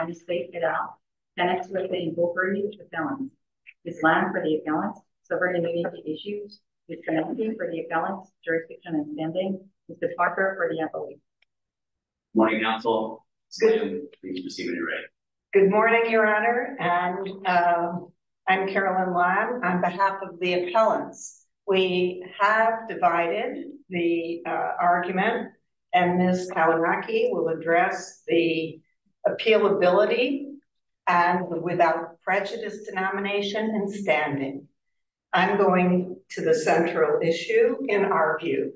United States Cadet, tenets relating to authority and fulfilment, Islam for the affiliants, sovereign immunity issues, neutrality for the affiliants, jurisdiction and standing, Mr. Parker for the employees. Good morning, Council. It's good to see you. Good morning, Your Honor. And I'm Carolyn Lam. On behalf of the appellants, we have divided the argument and Ms. Kalinrocki will address the appealability and without prejudice denomination and standing. I'm going to the central issue in our view.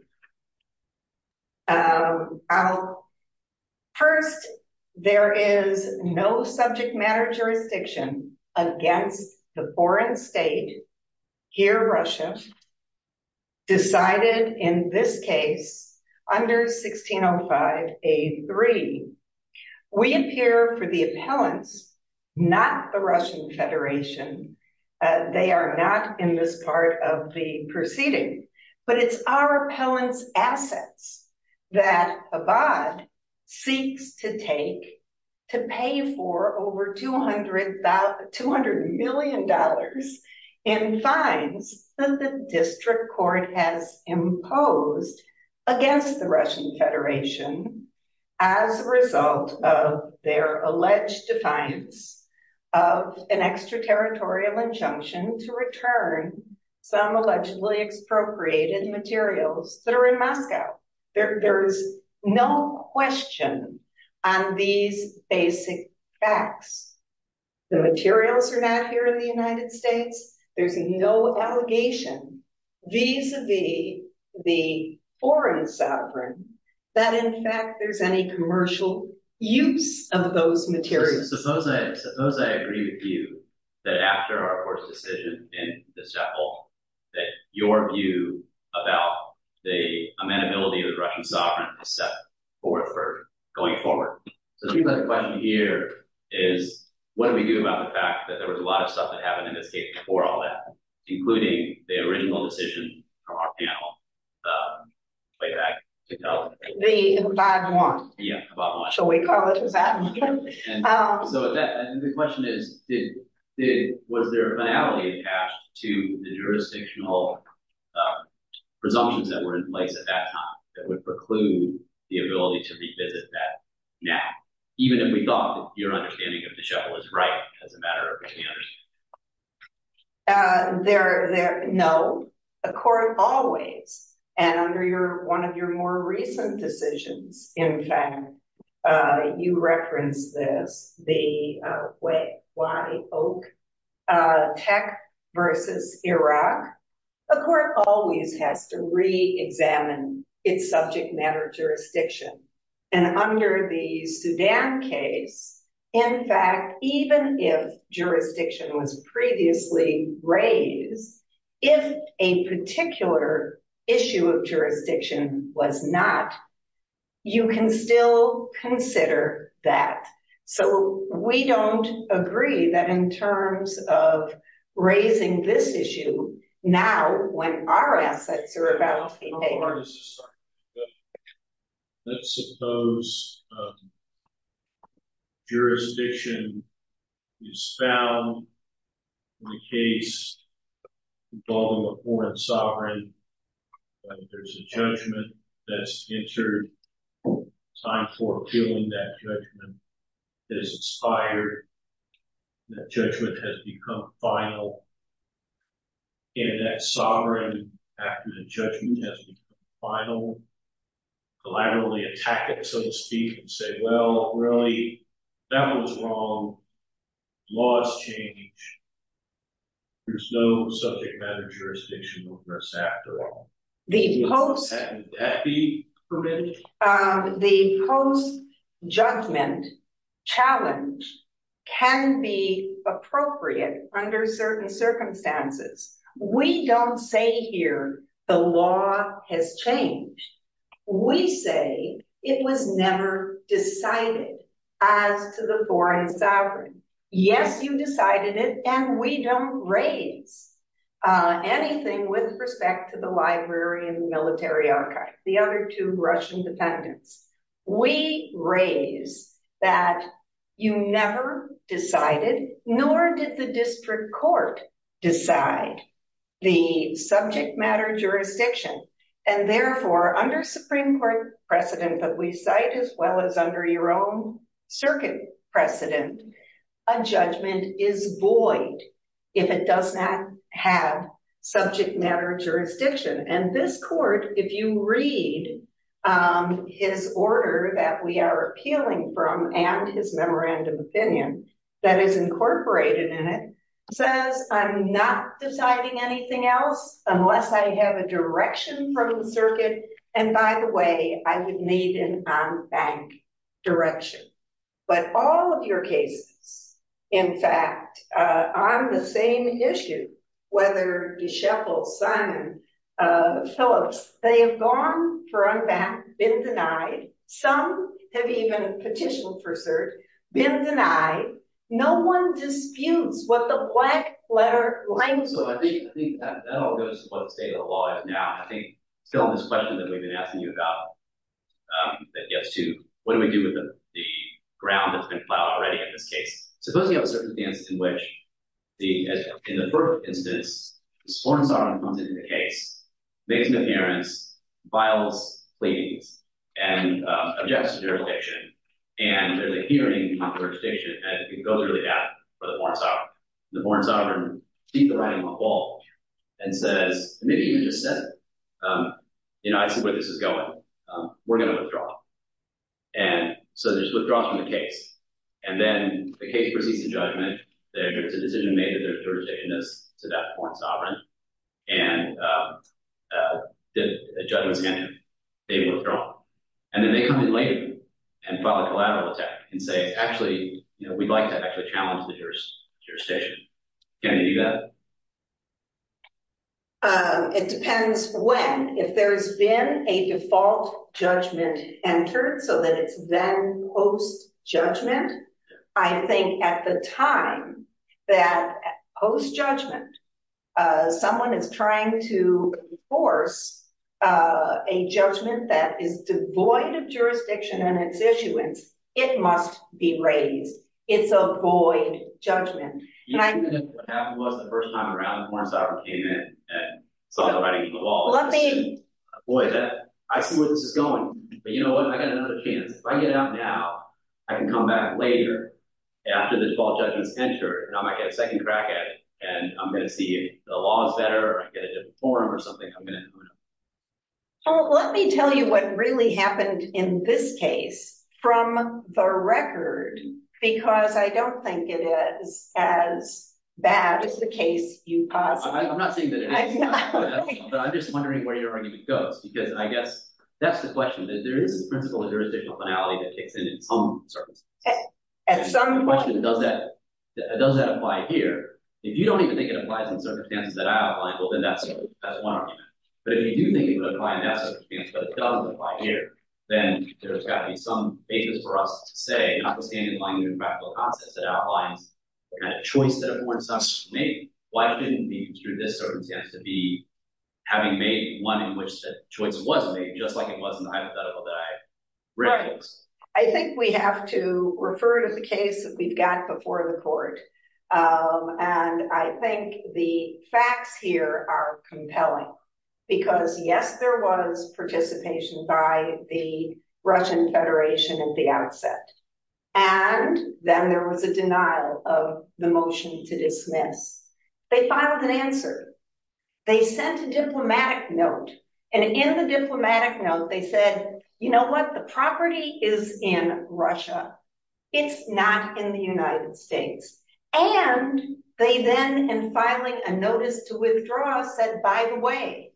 First, there is no subject matter jurisdiction against the foreign state, here Russia, decided in this case under 1605A3. We appear for the appellants, not the Russian Federation. They are not in this part of the proceeding. But it's our appellants' assets that Chabad seeks to take to pay for over $200 million in fines that the district court has imposed against the Russian Federation as a result of their alleged defiance of an extraterritorial injunction to return some allegedly expropriated materials that are in Moscow. There's no question on these basic facts. The materials are not here in the United States. There's no allegation vis-a-vis the foreign sovereign that in fact there's any commercial use of those materials. Suppose I agree with you that after our court's decision in this chapel that your view about the amenability of the Russian sovereign is set forth for going forward. So the question here is what do we do about the fact that there was a lot of stuff that happened in this case before all that, including the original decision from our panel way back in 2000? The abiding one. Yeah, abiding one. Shall we call it abiding one? So the question is was there a finality attached to the jurisdictional presumptions that were in place at that time that would preclude the ability to revisit that now, even if we thought your understanding of the chapel is right as a matter of understanding? No. A court always, and under one of your more recent decisions, in fact, you referenced this, the way, why Oak Tech versus Iraq, a court always has to re-examine its subject matter jurisdiction. And under the Sudan case, in fact, even if jurisdiction was previously raised, if a particular issue of jurisdiction was not, you can still consider that. So we don't agree that in terms of raising this issue now when our assets are about to suppose jurisdiction is found in a case involving a foreign sovereign, that there's a judgment that's entered, time for appealing that judgment, that it's expired, that judgment has become final, and that sovereign after the judgment has become final, collaterally attack it, so to speak, and say, well, really, that one's wrong. Law has changed. There's no subject matter jurisdiction on this after all. Would that be prudent? The post-judgment challenge can be appropriate under certain circumstances. We don't say here the law has changed. We say it was never decided as to the foreign sovereign. Yes, you decided it, and we don't raise anything with respect to the library and military archive. The other two Russian defendants. We raise that you never decided, nor did the district court decide, the subject matter jurisdiction. And therefore, under Supreme Court precedent that we cite, as well as under your own circuit precedent, a judgment is void if it does not have subject matter jurisdiction. And this court, if you read his order that we are appealing from and his memorandum opinion that is incorporated in it, says I'm not deciding anything else unless I have a direction from the circuit. And by the way, I would need an en banc direction. But all of your cases, in fact, on the same issue, whether DeSheffield, Simon, Phillips, they have gone for en banc, been denied. Some have even petitioned for cert, been denied. No one disputes what the black letter language means. So I think that all goes to what the state of the law is now. I think still on this question that we've been asking you about, that gets to what do we do with the ground that's been plowed already in this case. Suppose we have a circumstance in which, in the first instance, the sworn sovereign comes into the case, makes an appearance, files pleadings, and objects to jurisdiction. And there's a hearing on jurisdiction. And it goes really bad for the sworn sovereign. The sworn sovereign beats the writing on the wall and says, maybe even just says, you know, I see where this is going. We're going to withdraw. And so there's withdrawals from the case. And then the case proceeds to judgment. There's a decision made that the jurisdiction is to that sworn sovereign. And the judgment's going to be withdrawn. And then they come in later and file a collateral attack and say, actually, you know, I'd like to actually challenge the jurisdiction. Can you do that? It depends when. If there's been a default judgment entered so that it's then post-judgment, I think at the time that post-judgment someone is trying to enforce a judgment that is devoid of jurisdiction and its issuance. It must be raised. It's a void judgment. What happened was the first time around, the sworn sovereign came in and saw the writing on the wall and said, boy, I see where this is going. But you know what? I got another chance. If I get out now, I can come back later after the default judgment's entered. And I might get a second crack at it. And I'm going to see if the law is better or I get a different form or something. I'm going to know. Well, let me tell you what really happened in this case from the record, because I don't think it is as bad as the case you caused. I'm not saying that it is. But I'm just wondering where your argument goes, because I guess that's the question. There is a principle of jurisdictional finality that kicks in in some circumstances. The question is, does that apply here? If you don't even think it applies in certain circumstances that I outlined, well, then that's one argument. But if you do think it would apply in that circumstance, but it doesn't apply here, then there's got to be some basis for us to say, notwithstanding my new practical concept that outlines the kind of choice that everyone's not made, why couldn't it be through this circumstance to be having made one in which the choice wasn't made, just like it was in the hypothetical that I referenced? I think we have to refer to the case that we've got before the court. And I think the facts here are compelling, because, yes, there was participation by the Russian Federation at the outset. And then there was a denial of the motion to dismiss. They filed an answer. They sent a diplomatic note. And in the diplomatic note, they said, you know what? The property is in Russia. It's not in the United States. And they then, in filing a notice to withdraw, said, by the way,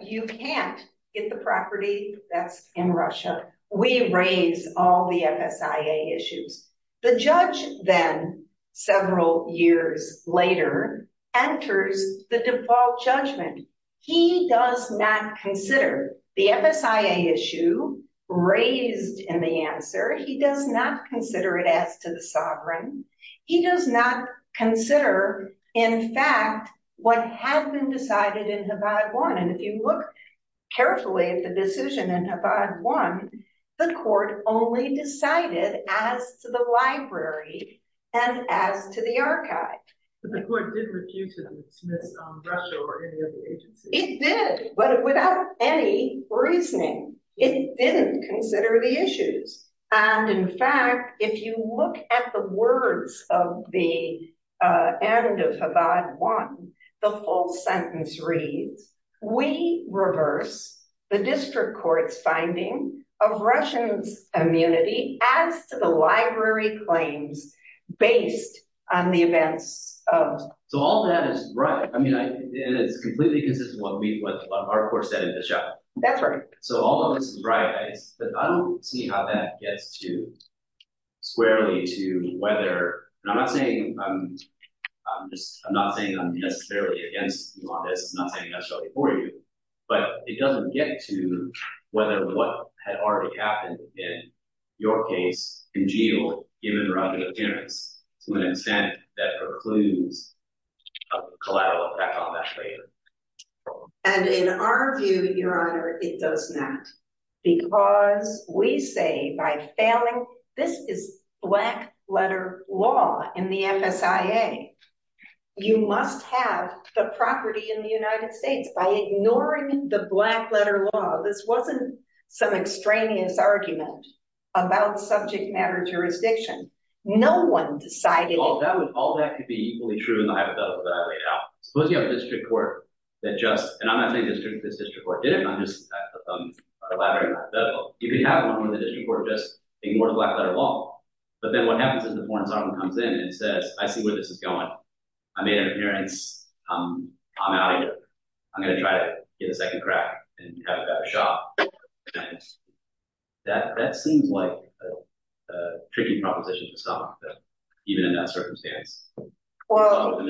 you can't get the property that's in Russia. We raise all the FSIA issues. The judge then, several years later, enters the default judgment. He does not consider the FSIA issue raised in the answer. He does not consider it as to the sovereign. He does not consider, in fact, what had been decided in Havad 1. And if you look carefully at the decision in Havad 1, the court only decided as to the library and as to the archive. But the court did refuse to dismiss Russia or any other agency. It did, but without any reasoning. It didn't consider the issues. And in fact, if you look at the words of the end of Havad 1, the full sentence reads, we reverse the district court's finding of Russians' immunity as to the library claims based on the events of. So all that is right. I mean, it's completely consistent with what our court said in the trial. That's right. So all of this is right. But I don't see how that gets to squarely to whether. I'm not saying I'm just I'm not saying I'm necessarily against this. I'm not saying that's for you, but it doesn't get to whether what had already happened in your case in jail, even rather than appearance, to an extent that precludes collateral effect on that claim. And in our view, Your Honor, it does not. Because we say by failing. This is black letter law in the FSA. You must have the property in the United States by ignoring the black letter law. This wasn't some extraneous argument about subject matter jurisdiction. No one decided that was all that could be true. Suppose you have a district court that just. And I'm not saying this district court did it. I'm just elaborating hypothetical. You could have one of the district court just ignore the black letter law. But then what happens is the Foreign Servant comes in and says, I see where this is going. I made an appearance. I'm out of here. I'm going to try to get a second crack and have a better shot. That seems like a tricky proposition to stop, even in that circumstance. Well,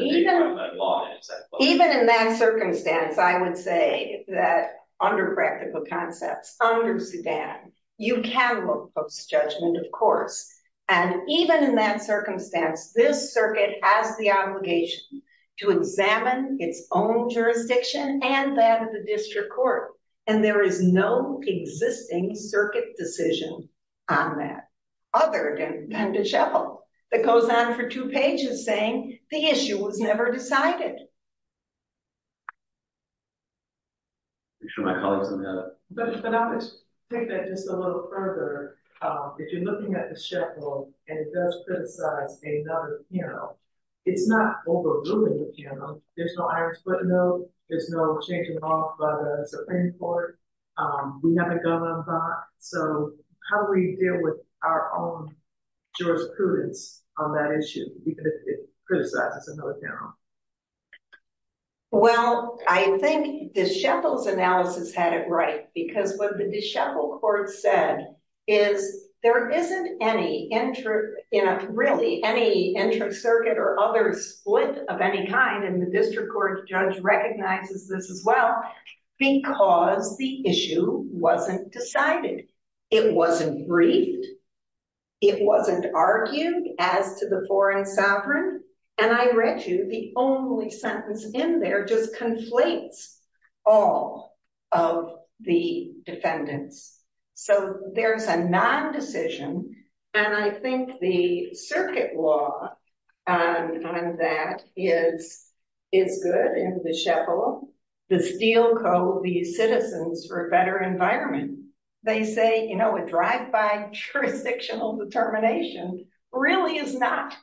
even in that circumstance, I would say that under practical concepts, under Sudan, you can look post judgment, of course. And even in that circumstance, this circuit has the obligation to examine its own jurisdiction and that of the district court. And there is no existing circuit decision on that. Other than the shuffle that goes on for two pages saying the issue was never decided. My colleagues. But I'll just take that just a little further. If you're looking at the shuffle and criticize another panel, it's not overruling the panel. There's no Irish footnote. There's no change in law by the Supreme Court. We have a gun on file. So how do we deal with our own jurisprudence on that issue? Well, I think the shuffles analysis had it right, because what the shuffle court said is there isn't any interest in really any interest circuit or other split of any kind. And the district court judge recognizes this as well, because the issue wasn't decided. It wasn't briefed. It wasn't argued as to the foreign sovereign. And I read you the only sentence in there just conflates all of the defendants. So there's a non-decision. And I think the circuit law on that is, is good in the shuffle. The steel code, the citizens for a better environment. They say, you know, a drive-by jurisdictional determination really is not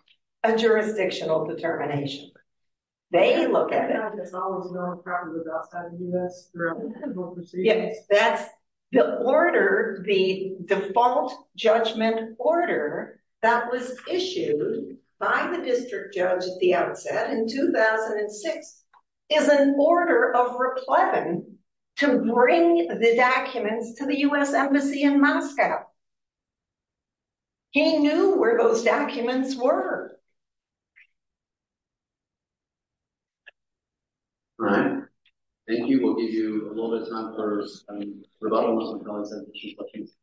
a jurisdictional determination. They look at it. Yes, that's the order. The default judgment order that was issued by the district judge at the outset in 2006 is an order of reply to bring the documents to the U.S. Embassy in Moscow. He knew where those documents were. All right. Thank you. We'll give you a little bit of time for rebuttals and comments and questions.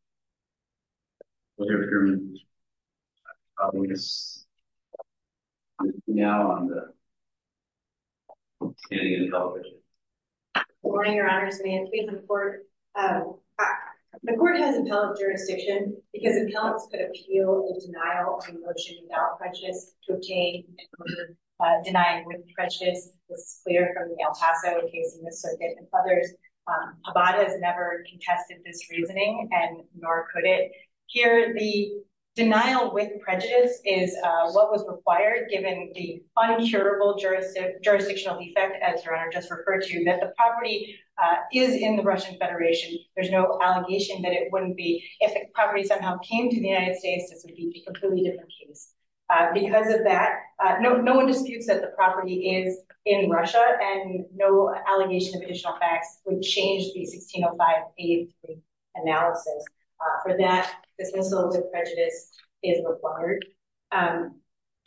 We'll hear from you now on the standing in the television. Good morning, Your Honors. The court has impellent jurisdiction because impellents could appeal the denial of a motion without prejudice to obtain denial with prejudice. This is clear from the El Paso case in this circuit and others. Abbott has never contested this reasoning and nor could it. Here, the denial with prejudice is what was required given the uncurable jurisdictional defect, as Your Honor just referred to, that the property is in the Russian Federation. There's no allegation that it wouldn't be. If the property somehow came to the United States, this would be a completely different case. Because of that, no one disputes that the property is in Russia, and no allegation of additional facts would change the 1605A3 analysis. For that, this insult to prejudice is required.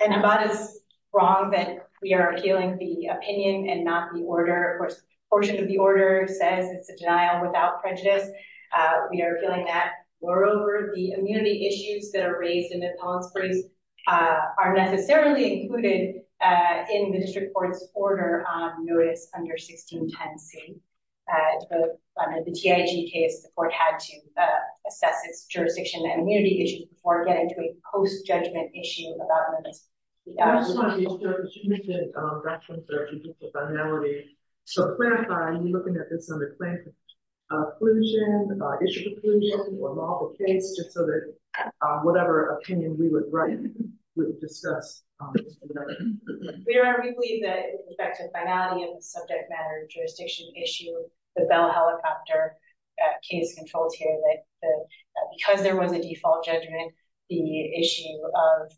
And Abbott is wrong that we are appealing the opinion and not the order. Of course, a portion of the order says it's a denial without prejudice. We are appealing that. Moreover, the immunity issues that are raised in the impellents briefs are necessarily included in the district court's order on notice under 1610C. The TIG case, the court had to assess its jurisdiction and immunity issues before getting to a post-judgment issue about limits. I just wanted to make reference to the finality. So clarifying, you're looking at this under plaintiff's inclusion, issue of inclusion, or lawful case, just so that whatever opinion we would write, we would discuss. We believe that in respect to the finality of the subject matter jurisdiction issue, the Bell helicopter case controls here that because there was a default judgment, the issue of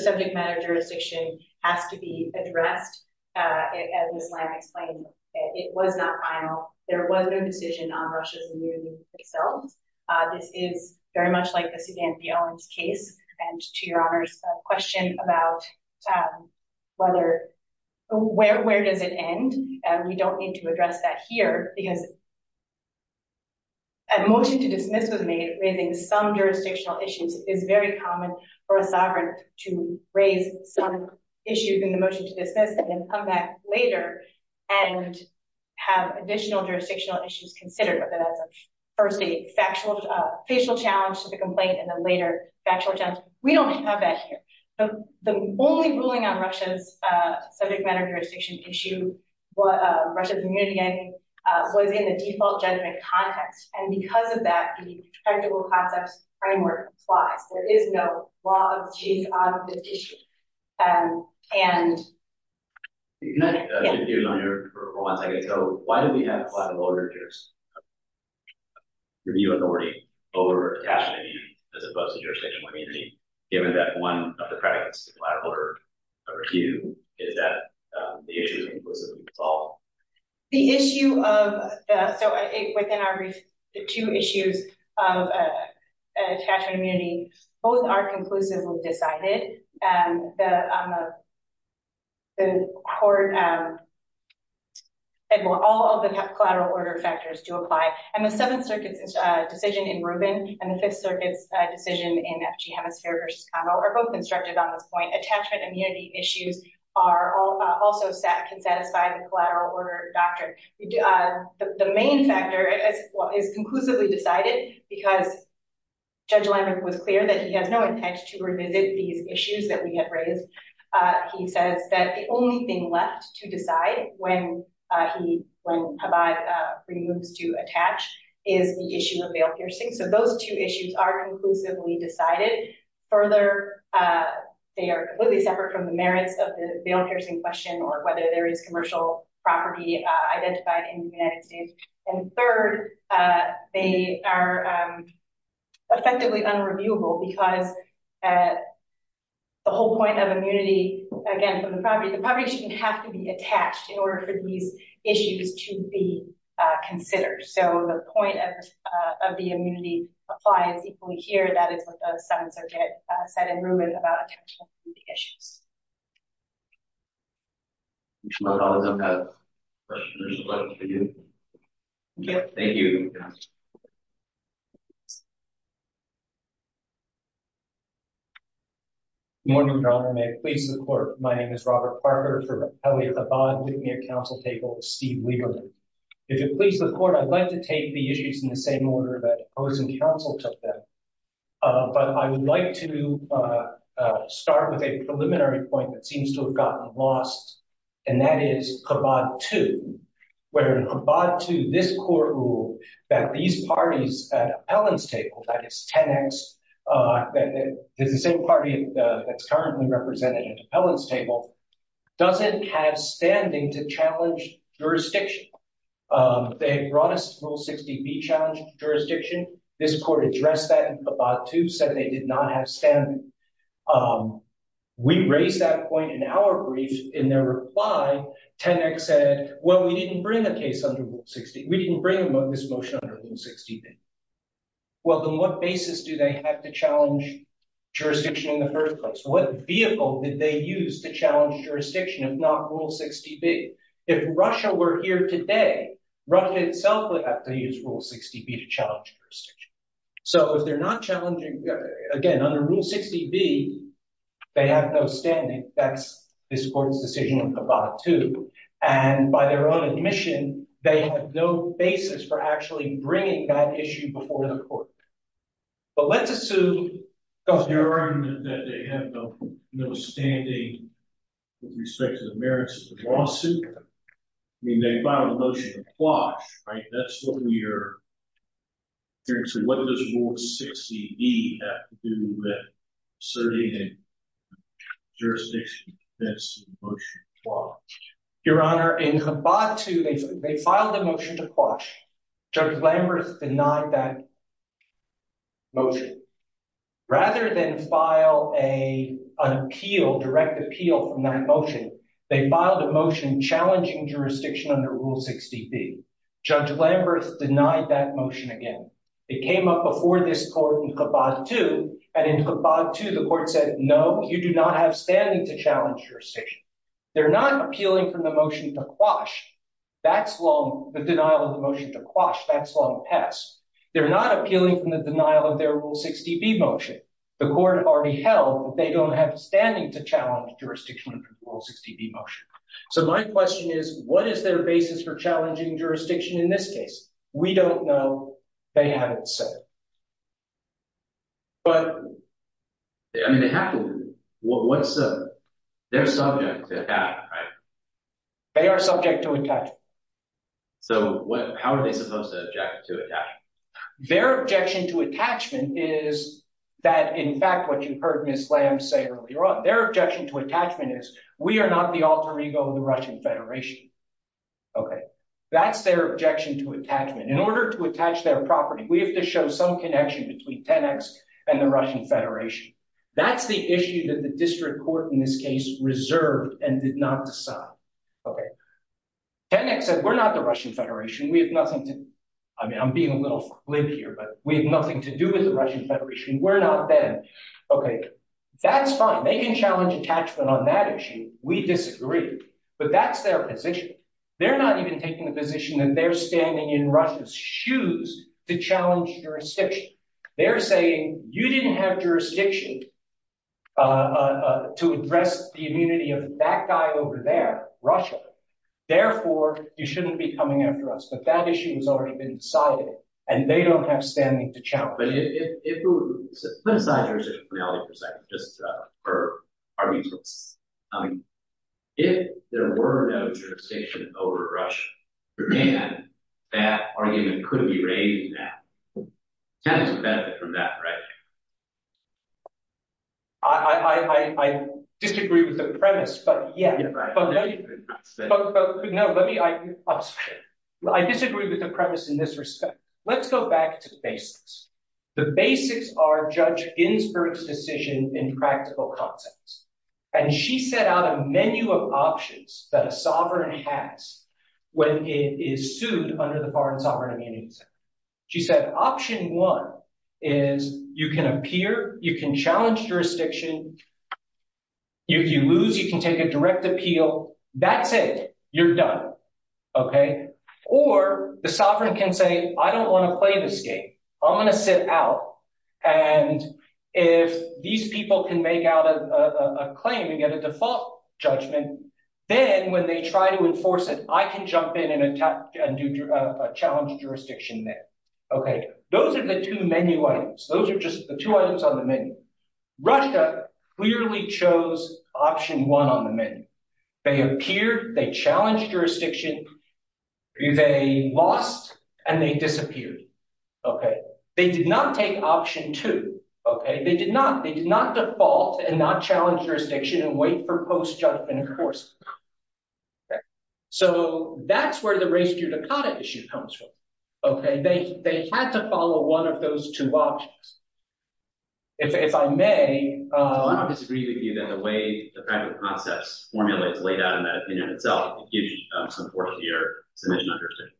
subject matter jurisdiction has to be addressed. As Ms. Lamb explained, it was not final. There was no decision on Russia's immunity itself. This is very much like the Suzanne B. Owens case. And to Your Honor's question about where does it end, we don't need to address that here because a motion to dismiss was made raising some jurisdictional issues. It is very common for a sovereign to raise some issues in the motion to dismiss and then come back later and have additional jurisdictional issues considered, whether that's a first a factual challenge to the complaint and then later factual challenge. We don't have that here. The only ruling on Russia's subject matter jurisdiction issue, Russia's immunity, was in the default judgment context. And because of that, the practical concepts framework applies. There is no law of the case on this issue. Your Honor, for one second. So why do we have a collateral review authority over attachment immunity as opposed to jurisdictional immunity, given that one of the practicals of the review is that the issue is inclusively solved? The issue of, so within our brief, the two issues of attachment immunity, both are conclusively decided. All of the collateral order factors do apply. And the Seventh Circuit's decision in Rubin and the Fifth Circuit's decision in FG Hemisphere v. Convo are both constructed on this point. Attachment immunity issues also can satisfy the collateral order doctrine. The main factor is conclusively decided because Judge Leibniz was clear that he has no intent to revisit these issues that we have raised. He says that the only thing left to decide when Habbad removes to attach is the issue of bail piercing. So those two issues are conclusively decided. Further, they are completely separate from the merits of the bail piercing question or whether there is commercial property identified in the United States. And third, they are effectively unreviewable because the whole point of immunity, again, from the property, the property shouldn't have to be attached in order for these issues to be considered. So the point of the immunity applies equally here. That is what the Seventh Circuit said in Rubin about attachment immunity issues. Good morning, Your Honor. May it please the Court, my name is Robert Parker. For Elliott, Habbad, Whitney at counsel table, Steve Lieberman. If it pleases the Court, I'd like to take the issues in the same order that Ozen counsel took them. But I would like to start with a preliminary point that seems to have gotten lost, and that is Habbad 2. Where in Habbad 2, this Court ruled that these parties at Appellant's table, that is 10X, the same party that's currently represented at Appellant's table, doesn't have standing to challenge jurisdiction. They brought us Rule 60B, challenge jurisdiction. This Court addressed that in Habbad 2, said they did not have standing. We raised that point in our brief. In their reply, 10X said, well, we didn't bring the case under Rule 60. We didn't bring this motion under Rule 60B. Well, then what basis do they have to challenge jurisdiction in the first place? What vehicle did they use to challenge jurisdiction if not Rule 60B? If Russia were here today, Russia itself would have to use Rule 60B to challenge jurisdiction. So if they're not challenging, again, under Rule 60B, they have no standing. That's this Court's decision in Habbad 2. And by their own admission, they have no basis for actually bringing that issue before the Court. But let's assume, Governor. Your Honor, in Habbad 2, they filed a motion to quash. Judge Lambert denied that motion. Rather than file an appeal, direct appeal from that motion, they filed a motion challenging jurisdiction under Rule 60B. Judge Lambert denied that motion again. It came up before this Court in Habbad 2. And in Habbad 2, the Court said, no, you do not have standing to challenge jurisdiction. They're not appealing from the motion to quash. That's long, the denial of the motion to quash, that's long past. They're not appealing from the denial of their Rule 60B motion. The Court already held that they don't have standing to challenge jurisdiction under Rule 60B motion. So my question is, what is their basis for challenging jurisdiction in this case? We don't know. They haven't said. But, I mean, they have to. What's their subject to attack, right? They are subject to attack. So how are they supposed to object to attack? Their objection to attachment is that, in fact, what you heard Ms. Lambert say earlier on, their objection to attachment is, we are not the alter ego of the Russian Federation. OK, that's their objection to attachment. In order to attach their property, we have to show some connection between Tenex and the Russian Federation. That's the issue that the district court in this case reserved and did not decide. Tenex said, we're not the Russian Federation. We have nothing to, I mean, I'm being a little flimsy here, but we have nothing to do with the Russian Federation. We're not them. OK, that's fine. They can challenge attachment on that issue. We disagree. But that's their position. They're not even taking the position that they're standing in Russia's shoes to challenge jurisdiction. They're saying, you didn't have jurisdiction to address the immunity of that guy over there, Russia. Therefore, you shouldn't be coming after us. But that issue has already been decided, and they don't have standing to challenge it. Put aside jurisdictionality for a second, just for argument's sake. If there were no jurisdiction over Russia, Japan, that argument could be raised now. Tenex would benefit from that, right? I disagree with the premise, but yeah. But no, let me, I disagree with the premise in this respect. Let's go back to the basics. The basics are Judge Ginsburg's decision in practical context. And she set out a menu of options that a sovereign has when it is sued under the Foreign Sovereign Immunity Act. She said option one is you can appear, you can challenge jurisdiction. If you lose, you can take a direct appeal. That's it. You're done. OK? Or the sovereign can say, I don't want to play this game. I'm going to sit out. And if these people can make out a claim and get a default judgment, then when they try to enforce it, I can jump in and challenge jurisdiction there. OK? Those are the two menu items. Those are just the two items on the menu. Russia clearly chose option one on the menu. They appeared, they challenged jurisdiction, they lost, and they disappeared. OK? They did not take option two. OK? They did not. They did not default and not challenge jurisdiction and wait for post-judgment enforcement. So that's where the race judicata issue comes from. OK? They had to follow one of those two options. If I may. So I don't disagree with you that the way the practical concepts formula is laid out in that opinion itself, it gives you some support of your submission under a certain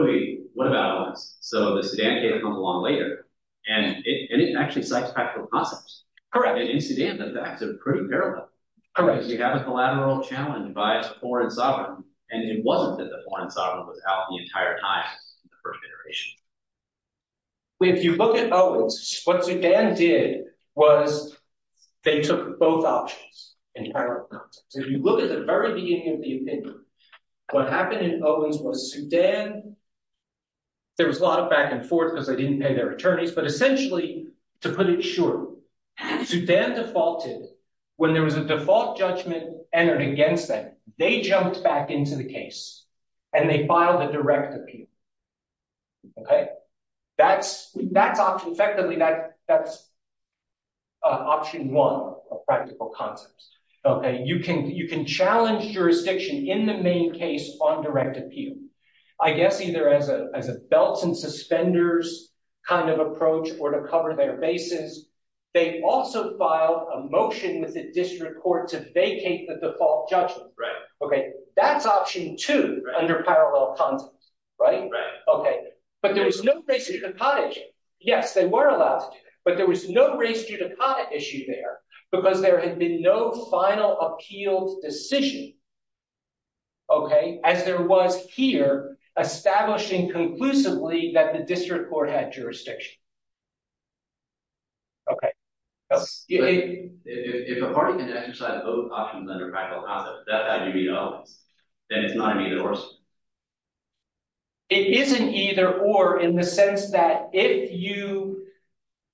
finale. What about Owens? So the Sudan case comes along later, and it actually cites practical concepts. Correct. And in Sudan, the facts are pretty parallel. Correct. You have a collateral challenge by a foreign sovereign, and it wasn't that the foreign sovereign was out the entire time in the first iteration. If you look at Owens, what Sudan did was they took both options in parallel. So if you look at the very beginning of the opinion, what happened in Owens was Sudan, there was a lot of back and forth because they didn't pay their attorneys, but essentially, to put it shortly, Sudan defaulted. When there was a default judgment entered against them, they jumped back into the case, and they filed a direct appeal. OK? Effectively, that's option one of practical concepts. OK? You can challenge jurisdiction in the main case on direct appeal, I guess either as a belts and suspenders kind of approach or to cover their bases. They also filed a motion with the district court to vacate the default judgment. Right. OK? That's option two under parallel context. Right? Right. OK. But there was no race judicata issue. Yes, they were allowed to do that. But there was no race judicata issue there because there had been no final appealed decision, OK, as there was here, establishing conclusively that the district court had jurisdiction. OK. If a party can exercise both options under practical concept, that would be Owens. Then it's not an either or. It isn't either or in the sense that if you,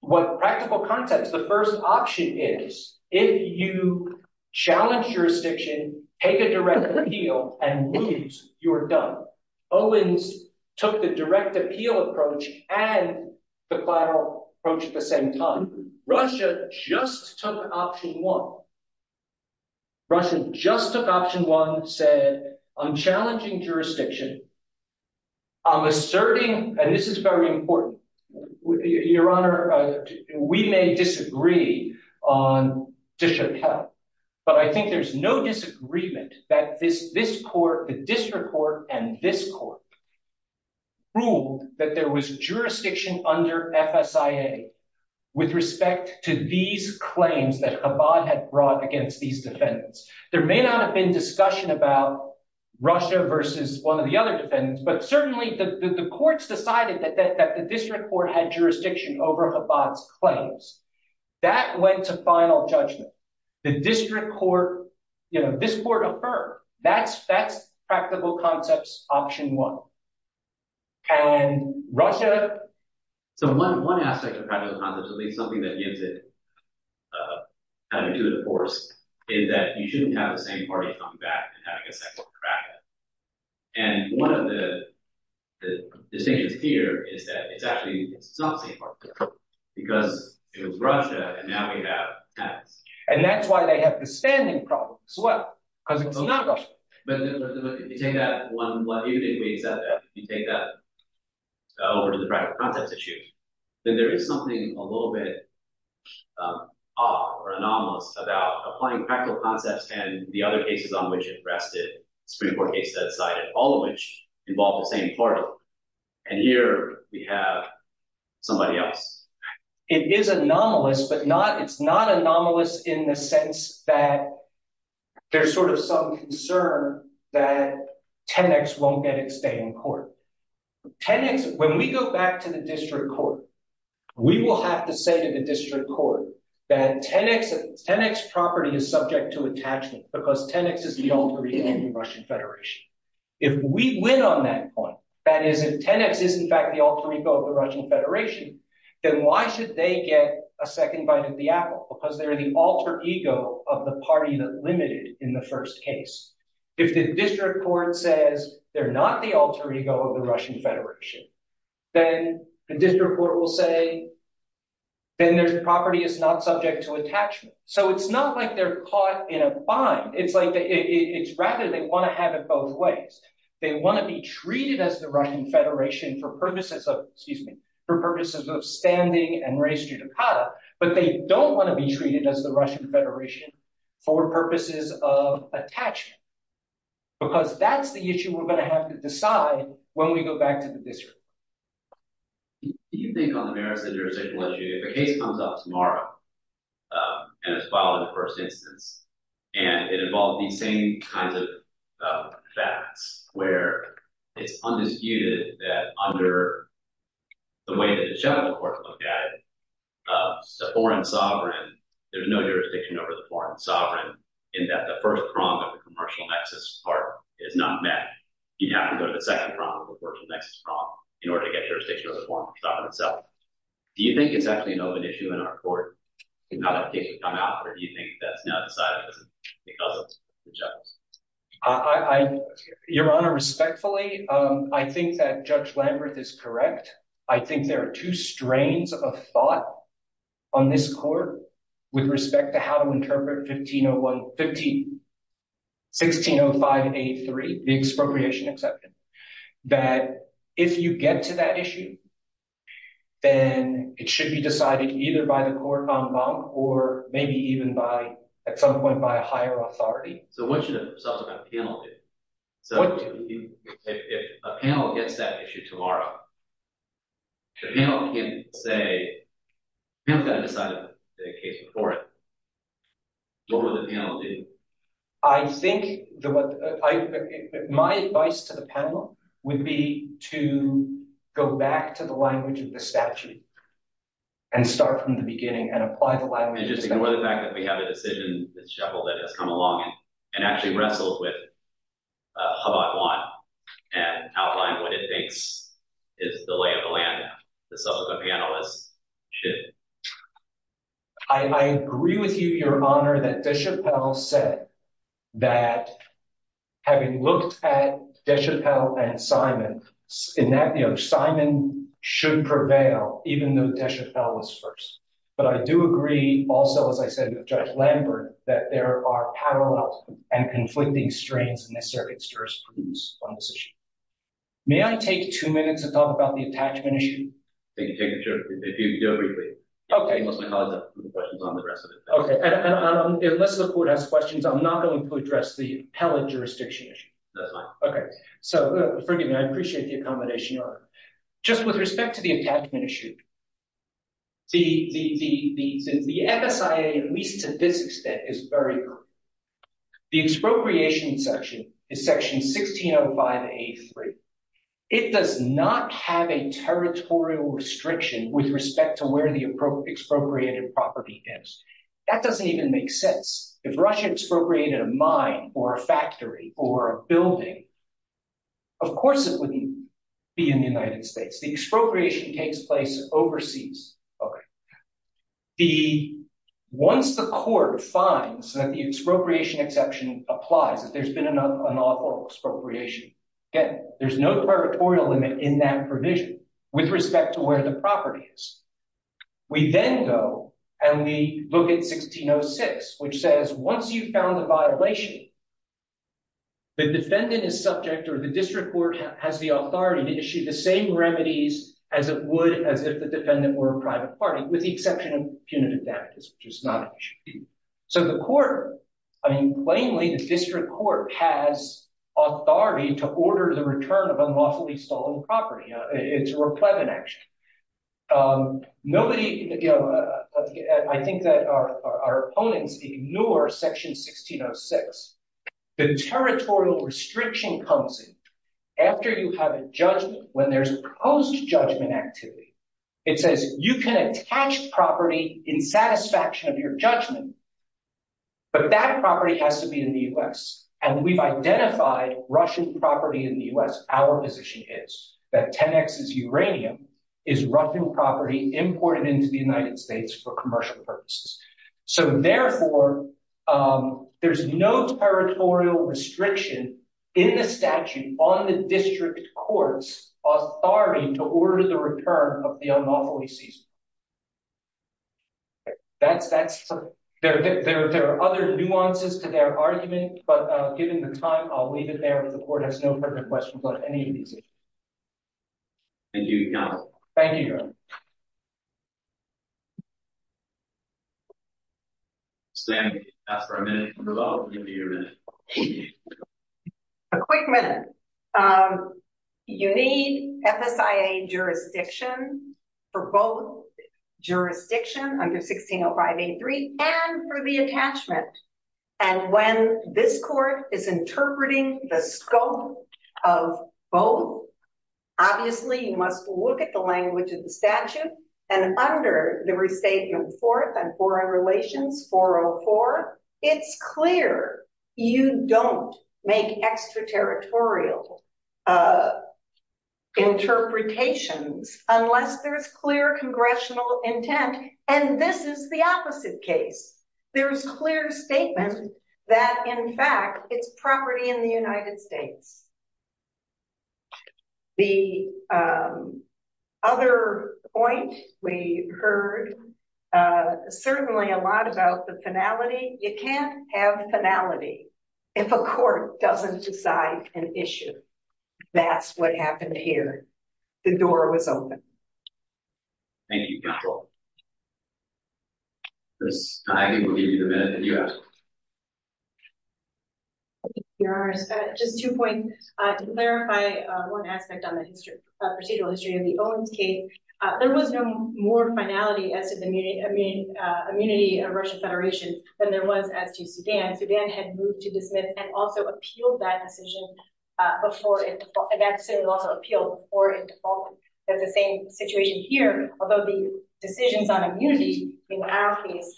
with practical context, the first option is if you challenge jurisdiction, take a direct appeal, and lose, you're done. Owens took the direct appeal approach and the collateral approach at the same time. Russia just took option one. Russia just took option one, said, I'm challenging jurisdiction. I'm asserting, and this is very important. Your Honor, we may disagree on disappeal, but I think there's no disagreement that this court, the district court, and this court ruled that there was jurisdiction under FSIA with respect to these claims that Chabad had brought against these defendants. There may not have been discussion about Russia versus one of the other defendants, but certainly the courts decided that the district court had jurisdiction over Chabad's claims. That went to final judgment. The district court, this court affirmed. That's practical concepts option one. And Russia? So one aspect of practical concepts, at least something that gives it attitude, of course, is that you shouldn't have the same party coming back and having a separate bracket. And one of the distinctions here is that it's actually, it's not the same party. Because it was Russia, and now we have France. And that's why they have the standing problem as well, because it's not Russia. But if you take that one, if you take that over to the practical concepts issue, then there is something a little bit off or anomalous about applying practical concepts and the other cases on which it rested, Supreme Court case that sided, all of which involved the same party. And here we have somebody else. It is anomalous, but it's not anomalous in the sense that there's sort of some concern that 10X won't get its day in court. 10X, when we go back to the district court, we will have to say to the district court that 10X's property is subject to attachment because 10X is the alter ego of the Russian Federation. If we win on that point, that is, if 10X is in fact the alter ego of the Russian Federation, then why should they get a second bite of the apple? Because they're the alter ego of the party that limited in the first case. If the district court says they're not the alter ego of the Russian Federation, then the district court will say, then their property is not subject to attachment. So it's not like they're caught in a bind. It's rather they want to have it both ways. They want to be treated as the Russian Federation for purposes of standing and res judicata, but they don't want to be treated as the Russian Federation for purposes of attachment. Because that's the issue we're going to have to decide when we go back to the district. You can think on the merits of the jurisdictional issue. If a case comes up tomorrow and it's filed in the first instance and it involved these same kinds of facts where it's undisputed that under the way that the general court looked at it, the foreign sovereign, there's no jurisdiction over the foreign sovereign, in that the first prong of the commercial nexus part is not met. You have to go to the second prong of the commercial nexus prong in order to get jurisdiction over the foreign sovereign itself. Do you think it's actually an open issue in our court in how that case would come out, or do you think that's now decided because of the judge? Your Honor, respectfully, I think that Judge Lamberth is correct. I think there are two strains of thought on this court with respect to how to interpret 1605-83, the expropriation exception, that if you get to that issue, then it should be decided either by the court en banc or maybe even at some point by a higher authority. So what should a subsequent panel do? What do you mean? If a panel gets that issue tomorrow, the panel can't say – the panel's got to decide a case before it. What would the panel do? I think – my advice to the panel would be to go back to the language of the statute and start from the beginning and apply the language of the statute. I agree with you, Your Honor, that De Chappelle said that having looked at De Chappelle and Simon, in that, you know, Simon should prevail even though De Chappelle was first. But I do agree also, as I said with Judge Lamberth, that there are parallel and conflicting strains in this circuit's jurisprudence on this issue. May I take two minutes to talk about the attachment issue? You can take two minutes. You can do it briefly. Okay. Unless my colleagues have questions on the rest of it. Okay. Unless the court has questions, I'm not going to address the appellate jurisdiction issue. That's fine. Okay. So forgive me. I appreciate the accommodation, Your Honor. Just with respect to the attachment issue, the MSIA, at least to this extent, is very good. The expropriation section is section 1605A3. It does not have a territorial restriction with respect to where the expropriated property is. That doesn't even make sense. If Russia expropriated a mine or a factory or a building, of course it wouldn't be in the United States. The expropriation takes place overseas. Okay. Once the court finds that the expropriation exception applies, that there's been an unlawful expropriation, there's no territorial limit in that provision with respect to where the property is. We then go and we look at 1606, which says, once you've found the violation, the defendant is subject or the district court has the authority to issue the same remedies as it would as if the defendant were a private party, with the exception of punitive damages, which is not an issue. So the court, I mean, plainly the district court has authority to order the return of unlawfully stolen property. It's a replevant action. I think that our opponents ignore section 1606. The territorial restriction comes in after you have a judgment, when there's a proposed judgment activity. It says you can attach property in satisfaction of your judgment, but that property has to be in the U.S. And we've identified Russian property in the U.S. Our position is that 10X's uranium is Russian property imported into the United States for commercial purposes. So therefore, there's no territorial restriction in the statute on the district court's authority to order the return of the unlawfully seized. There are other nuances to their argument, but given the time, I'll leave it there. The court has no further questions on any of these issues. Thank you, Your Honor. Thank you, Your Honor. Stan, you can ask for a minute and then I'll give you your minute. A quick minute. You need FSIA jurisdiction for both jurisdiction under 1605A3 and for the attachment. And when this court is interpreting the scope of both, obviously, you must look at the language of the statute. And under the restatement Fourth and Foreign Relations 404, it's clear you don't make extraterritorial interpretations unless there's clear congressional intent. And this is the opposite case. There's clear statement that, in fact, it's property in the United States. The other point we heard certainly a lot about the finality. You can't have finality if a court doesn't decide an issue. That's what happened here. The door was open. Thank you, Your Honor. Ms. Heine will give you the minute that you asked for. Thank you, Your Honor. Just two points. To clarify one aspect on the procedural history of the Owens case, there was no more finality as to the immunity of Russian Federation than there was as to Sudan. Sudan had moved to dismiss and also appealed that decision before in default. And that decision was also appealed before in default. That's the same situation here. Although the decisions on immunity in our case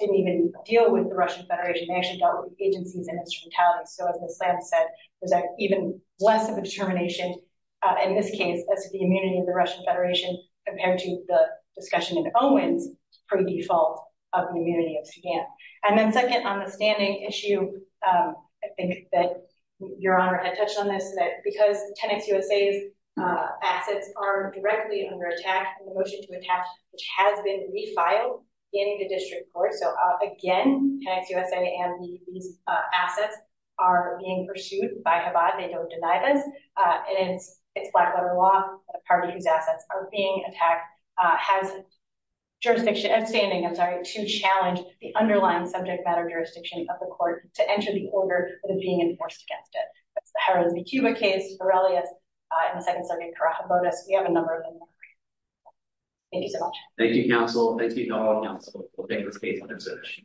didn't even deal with the Russian Federation. They actually dealt with agencies and instrumentality. So, as Ms. Lamb said, there's even less of a determination in this case as to the immunity of the Russian Federation compared to the discussion in Owens pre-default of the immunity of Sudan. And then second, on the standing issue, I think that Your Honor had touched on this, that because Tenex USA's assets are directly under attack, the motion to attach, which has been refiled in the district court. So, again, Tenex USA and these assets are being pursued by Chabad. They don't deny this. And it's black-letter law, a party whose assets are being attacked, has jurisdiction, standing, I'm sorry, to challenge the underlying subject matter jurisdiction of the court to enter the order that is being enforced against it. That's the Harris v. Cuba case, Aurelius, and the Second Circuit Karakobotos. We have a number of them. Thank you so much. Thank you, counsel. Thank you, counsel, for taking this case under search.